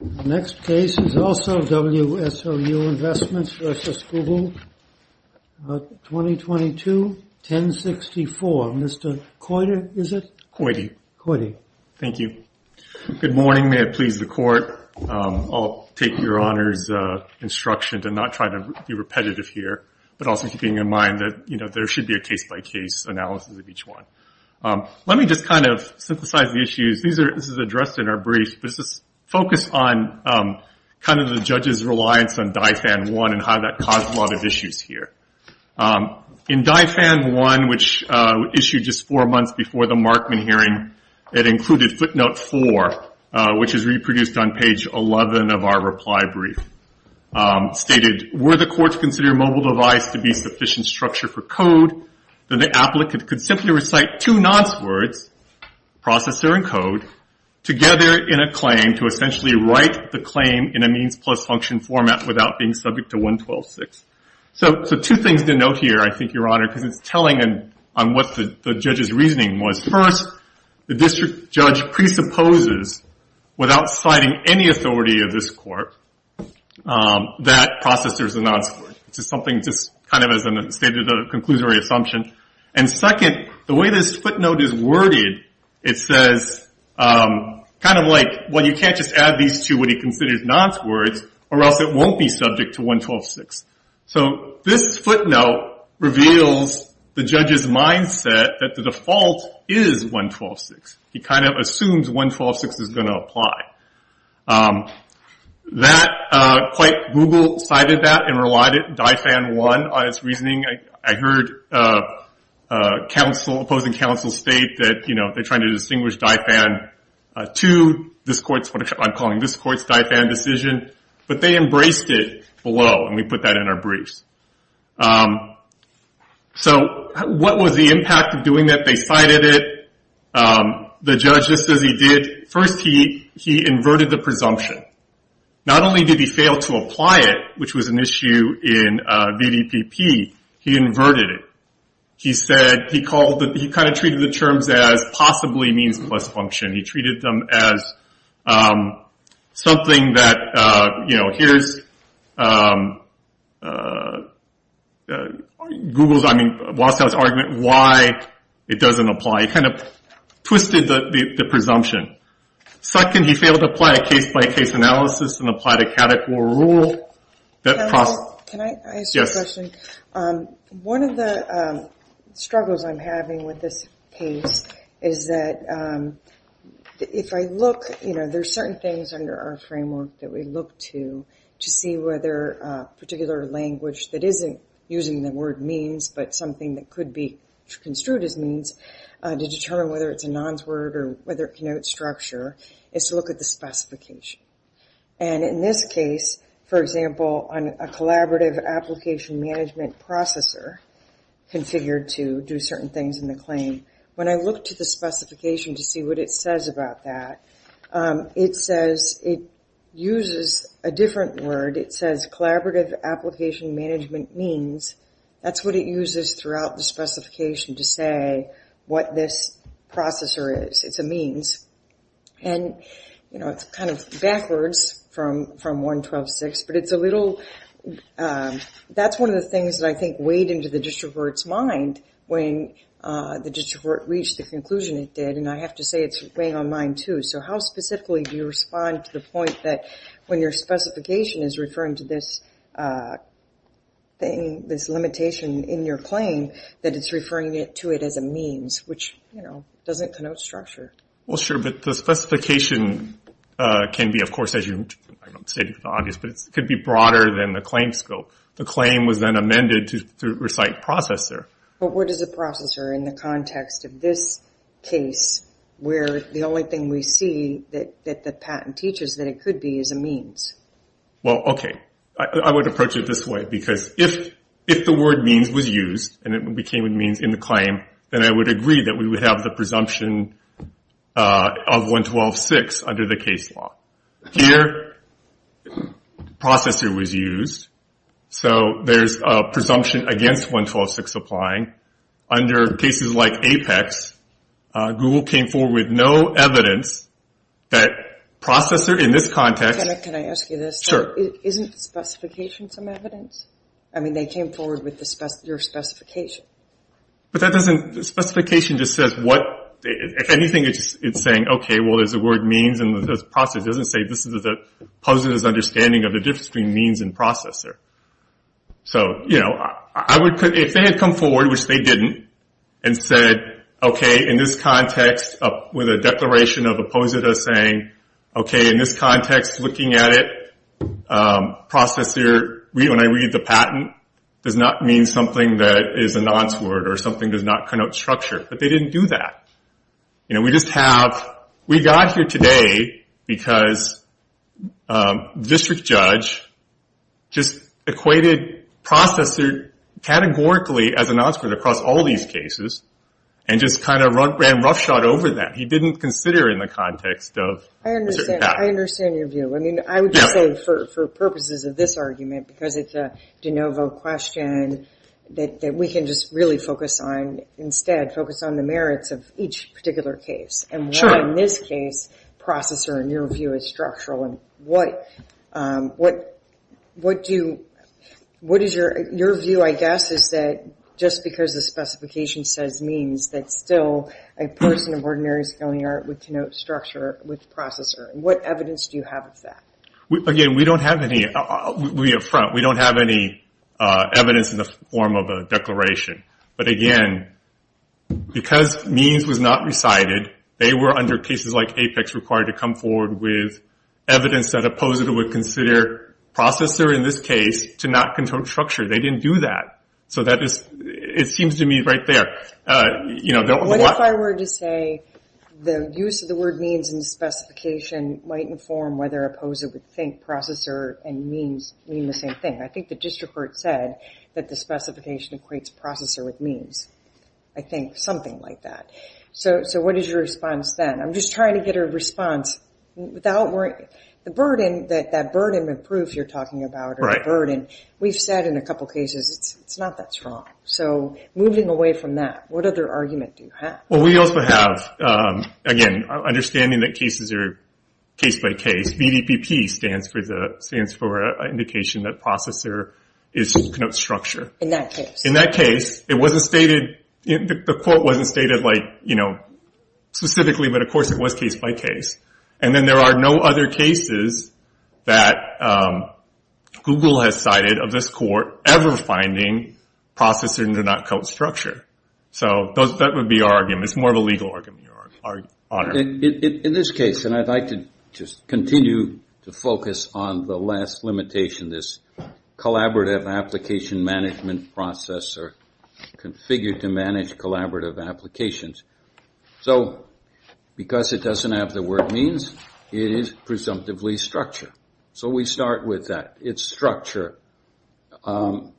Next case is also WSOU Investments v. Google, 2022-1064. Mr. Coyde, is it? Coyde. Thank you. Good morning, may it please the court. I'll take your honors instruction to not try to be repetitive here but also keeping in mind that you know there should be a case-by-case analysis of each one. Let me just kind of synthesize the issues. This is addressed in our brief focused on kind of the judge's reliance on DIFAN 1 and how that caused a lot of issues here. In DIFAN 1, which issued just four months before the Markman hearing, it included footnote 4, which is reproduced on page 11 of our reply brief. It stated, were the court to consider a mobile device to be sufficient structure for code, then the applicant could simply recite two nonce words, processor and code, together in a claim to essentially write the claim in a means-plus-function format without being subject to 112.6. So two things to note here, I think, your honor, because it's telling on what the judge's reasoning was. First, the district judge presupposes, without citing any authority of this court, that processors are nonce words, which is something just kind of as a conclusory assumption. And second, the way this footnote is worded, it says kind of like, well, you can't just add these two when he considers nonce words, or else it won't be subject to 112.6. So this footnote reveals the judge's mindset that the default is 112.6. He kind of assumes 112.6 is going to apply. Google cited that and relied on DIFAN 1 on its reasoning. I heard opposing counsels state that they're trying to distinguish DIFAN 2, this court's, what I'm calling this court's, DIFAN decision. But they embraced it below, and we put that in our briefs. So what was the impact of doing that? They cited it. The judge, just as he did, first he inverted the presumption. Not only did he fail to apply it, which was an issue in VDPP, he inverted it. He said, he called the, he kind of treated the terms as possibly means plus function. He treated them as something that, you know, here's Google's, I mean, Wildstyle's argument, why it doesn't apply. He kind of twisted the presumption. Second, he failed to apply a case-by-case analysis and applied a categorical rule that crossed. Can I ask you a question? Yes. One of the struggles I'm having with this case is that if I look, you know, there's certain things under our framework that we look to, to see whether a particular language that isn't using the word means, but something that could be construed as means, to determine whether it's a nonse word or whether it connotes structure, is to look at the specification. And in this case, for example, on a collaborative application management processor configured to do certain things in the claim, when I look to the specification to see what it says about that, it says, it uses a different word. It says collaborative application management means. That's what it uses throughout the specification to say what this processor is. It's a means. And, you know, it's kind of backwards from 1.12.6, but it's a little, that's one of the things that I think weighed into the distrovert's mind when the distrovert reached the conclusion it did. And I have to say it's weighing on mine too. So how specifically do you respond to the point that when your specification is referring to this thing, this limitation in your claim, that it's referring to it as a means, which, you know, doesn't connote structure? Well sure, but the specification can be, of course, as you stated, obvious, but it could be broader than the claim scope. The claim was then amended to recite processor. But what is a processor in the context of this case where the only thing we see that the patent teaches that it could be is a means? Well, okay. I would approach it this way because if the word means was used and it became a means in the claim, then I would agree that we would have the presumption of 1.12.6 under the case law. Here, processor was used. So there's a presumption against 1.12.6 applying. Under cases like APEX, Google came forward with no evidence that processor in this context... Can I ask you this? Sure. Isn't the specification some evidence? I mean, they came forward with your specification. But that doesn't...the specification just says what...if anything, it's saying, okay, well, there's a word means in the process. It doesn't say this is a positive understanding of the difference between means and processor. If they had come forward, which they didn't, and said, okay, in this context, with a declaration of opposita saying, okay, in this context, looking at it, processor, when I read the patent, does not mean something that is a nonce word or something does not connote structure. But they didn't do that. We just have...we got here today because district judge just equated processor categorically as a nonce word across all these cases and just kind of ran roughshod over that. He didn't consider in the context of... I understand your view. I mean, I would just say for purposes of this argument, because it's a de novo question that we can just really focus on instead, focus on the merits of each particular case and why, in this case, processor, in your view, is structural and what do you...what is your view, I guess, is that just because the specification says means that still a person of ordinary skill in the art would connote structure with processor. What evidence do you have of that? Again, we don't have any...we don't have any evidence in the form of a they were under cases like Apex required to come forward with evidence that a POSA would consider processor in this case to not connote structure. They didn't do that. So that is...it seems to me right there, you know... What if I were to say the use of the word means in the specification might inform whether a POSA would think processor and means mean the same thing? I think the district court said that the specification equates processor with that. So what is your response then? I'm just trying to get a response without worrying...the burden, that burden of proof you're talking about, or the burden, we've said in a couple cases it's not that strong. So moving away from that, what other argument do you have? Well, we also have, again, understanding that cases are case by case, BDPP stands for the...stands for indication that processor is to connote structure. In that case. It wasn't stated...the quote wasn't stated, like, you know, specifically, but of course it was case by case. And then there are no other cases that Google has cited of this court ever finding processor to not connote structure. So that would be our argument. It's more of a legal argument. In this case, and I'd like to just continue to focus on the last limitation, this collaborative application management processor configured to manage collaborative applications. So, because it doesn't have the word means, it is presumptively structure. So we start with that. It's structure. And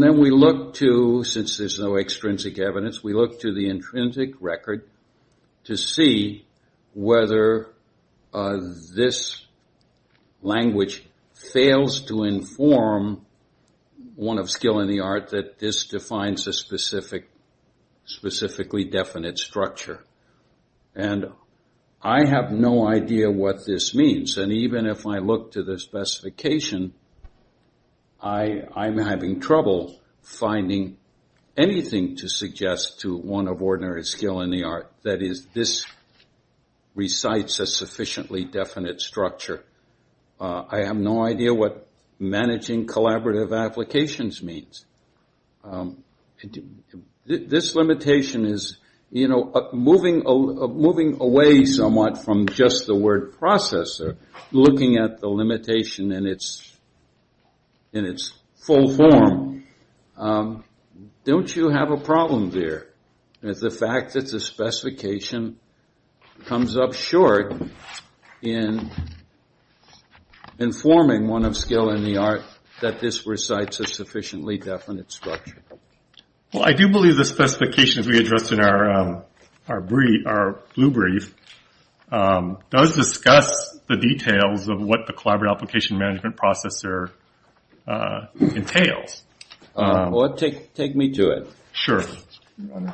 then we look to, since there's no extrinsic evidence, we look to the information to inform one of skill in the art that this defines a specific, specifically definite structure. And I have no idea what this means. And even if I look to the specification, I'm having trouble finding anything to suggest to one of ordinary skill in the art that is this recites a sufficiently definite structure. I have no idea what managing collaborative applications means. This limitation is, you know, moving away somewhat from just the word processor, looking at the limitation in its full form. Don't you have a problem there? It's the fact that the specification comes up short in informing one of skill in the art that this recites a sufficiently definite structure. Well, I do believe the specifications we addressed in our blue brief does discuss the details of what the collaborative application management processor entails. Well, take me to it. Sure. I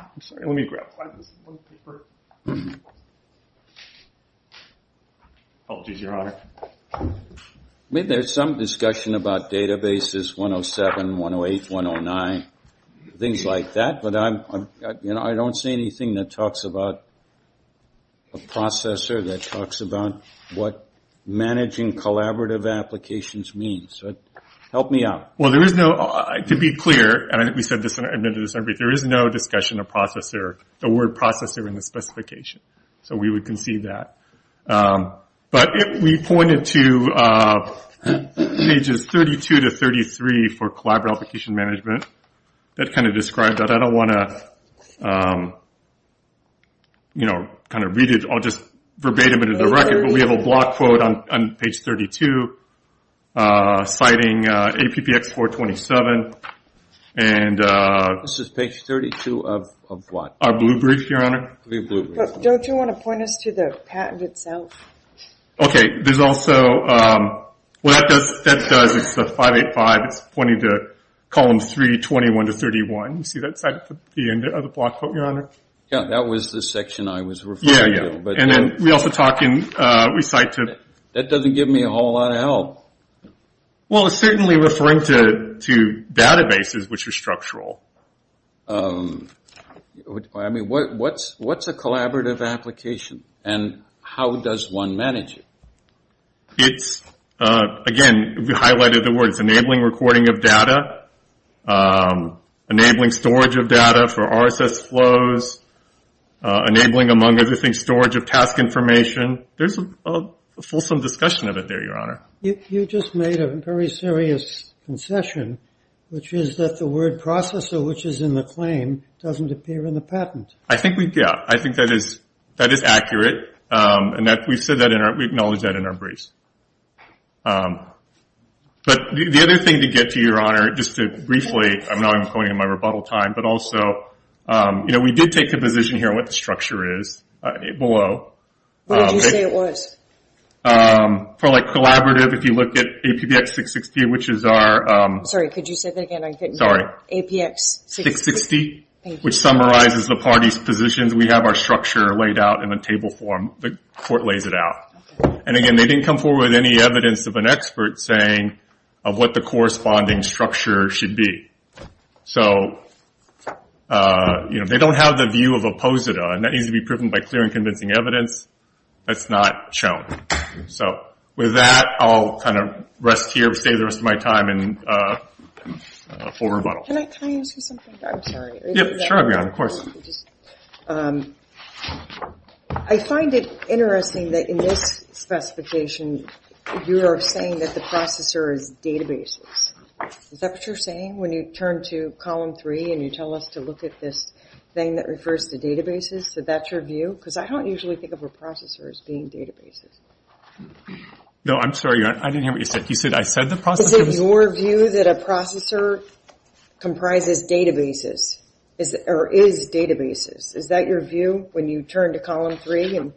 mean, there's some discussion about databases, 107, 108, 109, things like that. But I don't see anything that talks about a processor that talks about what managing collaborative applications means. Help me out. Well, there is no, to be clear, and I think we said this at the end of the summary, there is no discussion of processor, the word processor in the specification. So we would concede that. But if we pointed to pages 32 to 33 for collaborative application management, that kind of described that. I don't want to, you know, kind of read it all just This is page 32 of what? Our blue brief, your honor. Don't you want to point us to the patent itself? Okay, there's also, well that does, it's 585, it's pointing to columns 321 to 31. You see that side at the end of the block quote, your honor? Yeah, that was the section I was referring to. Yeah, yeah. And then we also talk in, recite to... That doesn't give me a whole lot of help. Well, it's certainly referring to databases which are structural. I mean, what's a collaborative application and how does one manage it? It's, again, we highlighted the words, enabling recording of data, enabling storage of data for RSS flows, enabling, among other things, storage of task information. There's a fulsome discussion of it there, your honor. You just made a very serious concession, which is that the word processor, which is in the claim, doesn't appear in the patent. I think we, yeah, I think that is, that is accurate. And that, we've said that in our, we acknowledge that in our briefs. But the other thing to get to, your honor, just to briefly, I'm not even going into my rebuttal time, but also, you know, we did take a position here on what the structure is below. What did you say it was? For, like, collaborative, if you look at APBX 660, which is our. Sorry, could you say that again? Sorry. APX 660. 660, which summarizes the parties' positions. We have our structure laid out in a table form. The court lays it out. And, again, they didn't come forward with any evidence of an expert saying of what the corresponding structure should be. So, you know, they don't have the view of a posita, and that needs to be proven by clear and convincing evidence. That's not shown. So, with that, I'll kind of rest here, save the rest of my time, and full rebuttal. Can I ask you something? I'm sorry. Sure, your honor, of course. I find it interesting that in this specification, you are saying that the processor is databases. Is that what you're saying when you turn to column three and you tell us to look at this thing that refers to databases, that that's your view? Because I don't usually think of a processor as being databases. No, I'm sorry, your honor. I didn't hear what you said. You said I said the processor was. Is it your view that a processor comprises databases or is databases? Is that your view when you turn to column three and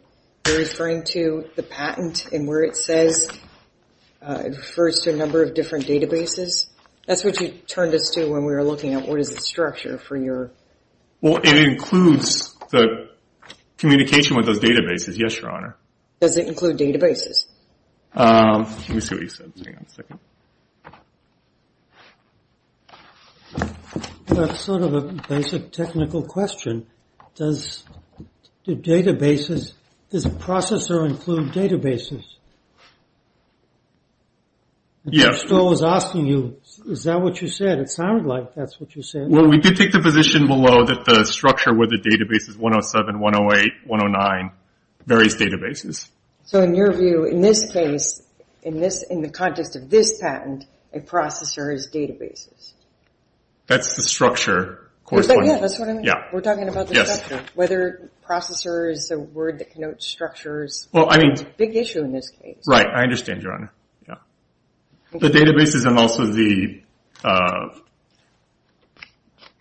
you're referring to the patent and where it says it refers to a number of different databases? That's what you turned us to when we were looking at what is the structure for your. Well, it includes the communication with those databases, yes, your honor. Does it include databases? Let me see what you said. Hang on a second. That's sort of a basic technical question. Does the databases, does the processor include databases? Yes. I was asking you, is that what you said? It sounded like that's what you said. Well, we did take the position below that the structure with the database is 107, 108, 109, various databases. So in your view, in this case, in the context of this patent, a processor is databases. That's the structure. Yeah, that's what I mean. We're talking about the structure, whether processor is a word that connotes structures. It's a big issue in this case. Right, I understand, your honor. The databases and also the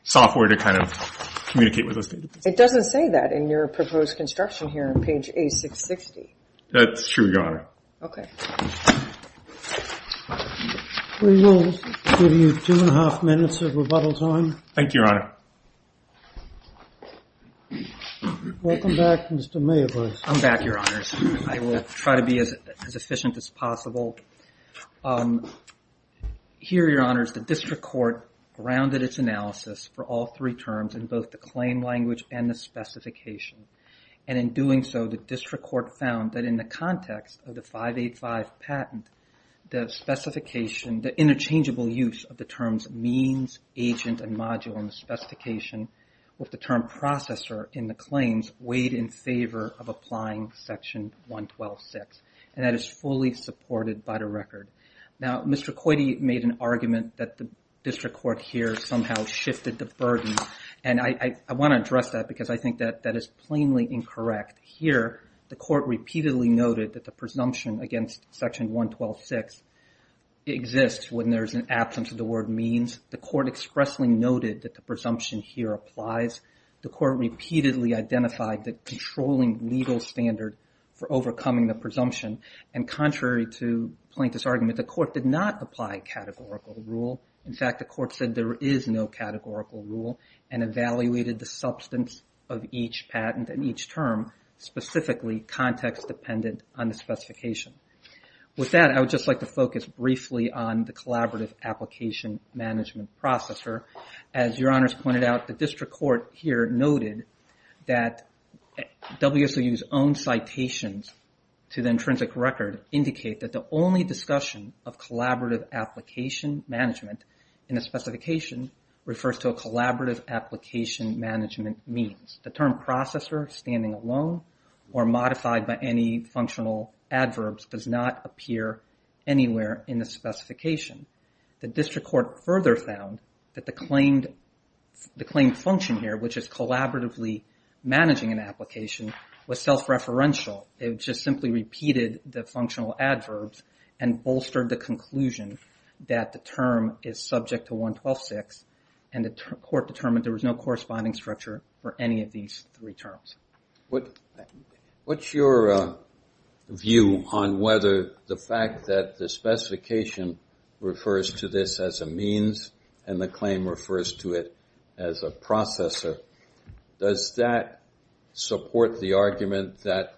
software to kind of communicate with those databases. It doesn't say that in your proposed construction here on page A660. That's true, your honor. Okay. We will give you two and a half minutes of rebuttal time. Thank you, your honor. Welcome back, Mr. Mayer, please. I'm back, your honors. I will try to be as efficient as possible. Here, your honors, the district court grounded its analysis for all three terms in both the claim language and the specification. And in doing so, the district court found that in the context of the 585 patent, the specification, the interchangeable use of the terms means, agent, and module in the specification with the term processor in the claims weighed in favor of applying Section 112.6. And that is fully supported by the record. Now, Mr. Coyte made an argument that the district court here somehow shifted the burden. And I want to address that because I think that is plainly incorrect. Here, the court repeatedly noted that the presumption against Section 112.6 exists when there's an absence of the word means. The court expressly noted that the presumption here applies. The court repeatedly identified the controlling legal standard for overcoming the presumption. And contrary to Plaintiff's argument, the court did not apply categorical rule. In fact, the court said there is no categorical rule and evaluated the substance of each patent and each term, specifically context dependent on the specification. With that, I would just like to focus briefly on the collaborative application management processor. As Your Honors pointed out, the district court here noted that WSOU's own citations to the intrinsic record indicate that the only discussion of collaborative application management in a specification refers to a collaborative application management means. The term processor standing alone or modified by any functional adverbs does not appear anywhere in the specification. The district court further found that the claimed function here, which is collaboratively managing an application, was self-referential. It just simply repeated the functional adverbs and bolstered the conclusion that the term is subject to 112.6, and the court determined there was no corresponding structure for any of these three terms. What's your view on whether the fact that the specification refers to this as a means and the claim refers to it as a processor, does that support the argument that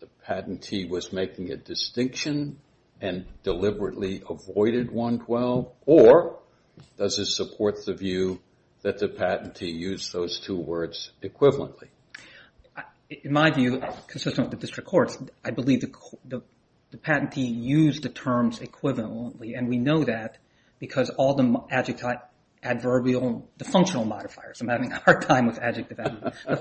the patentee was making a distinction and deliberately avoided 112, or does it support the view that the patentee used those two words equivalently? In my view, consistent with the district court's, I believe the patentee used the terms equivalently, and we know that because all the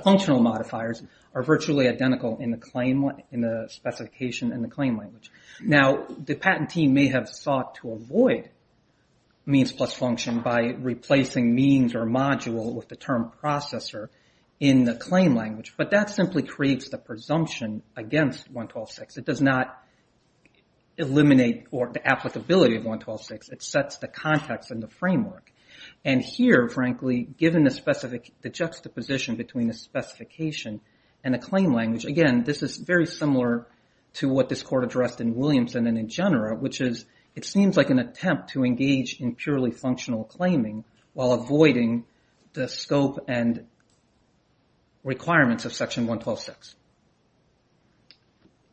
functional modifiers are virtually identical in the specification and the claim language. Now, the patentee may have sought to avoid means plus function by replacing means or module with the term processor in the claim language, but that simply creates the presumption against 112.6. It does not eliminate the applicability of 112.6. It sets the context and the framework. Here, frankly, given the juxtaposition between the specification and the claim language, again, this is very similar to what this court addressed in Williamson and in Genera, which is it seems like an attempt to engage in purely functional claiming while avoiding the scope and requirements of section 112.6.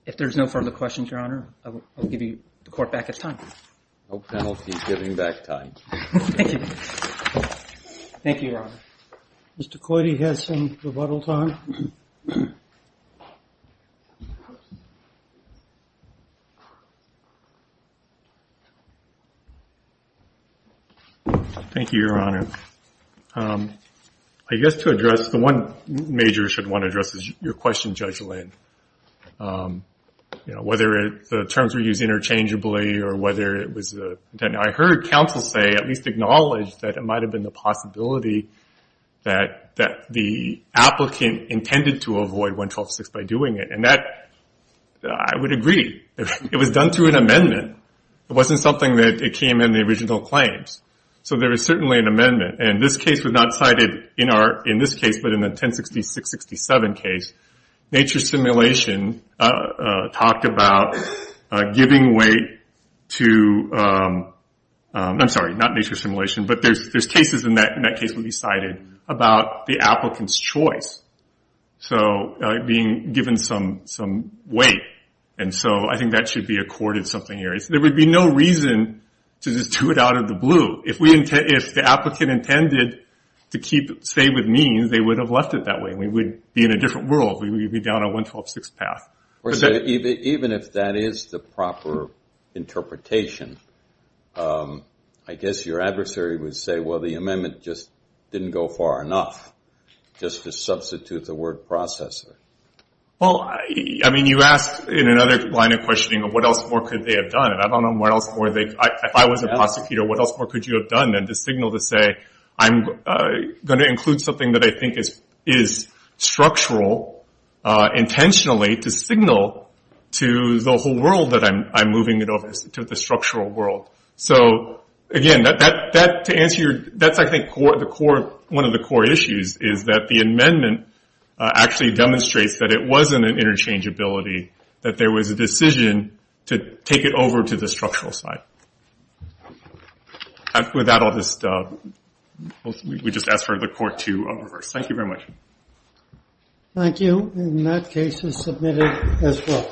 If there's no further questions, Your Honor, I will give the court back its time. No penalties, giving back time. Thank you. Thank you, Your Honor. Mr. Coide has some rebuttal time. Thank you, Your Honor. I guess to address, the one major I should want to address is your question, Judge Lynn, whether the terms were used interchangeably or whether it was a, I heard counsel say, at least acknowledge, that it might have been the possibility that the applicant intended to avoid 112.6 by doing it. And that, I would agree. It was done through an amendment. It wasn't something that came in the original claims. So there is certainly an amendment. And this case was not cited in this case, but in the 1066-67 case. Nature Simulation talked about giving way to, I'm sorry, not Nature Simulation, but there's cases in that case where we cited about the applicant's choice. So being given some weight. And so I think that should be accorded something here. There would be no reason to just do it out of the blue. If the applicant intended to stay with means, they would have left it that way. We would be in a different world. We would be down a 112.6 path. Even if that is the proper interpretation, I guess your adversary would say, well, the amendment just didn't go far enough just to substitute the word processor. Well, I mean, you asked in another line of questioning of what else more could they have done. And I don't know what else more they, if I was a prosecutor, what else more could you have done than to signal to say, okay, I'm going to include something that I think is structural intentionally to signal to the whole world that I'm moving it over to the structural world. So, again, to answer your, that's, I think, one of the core issues, is that the amendment actually demonstrates that it wasn't an interchangeability, that there was a decision to take it over to the structural side. With that, I'll just, we just ask for the court to reverse. Thank you very much. Thank you. And that case is submitted as well.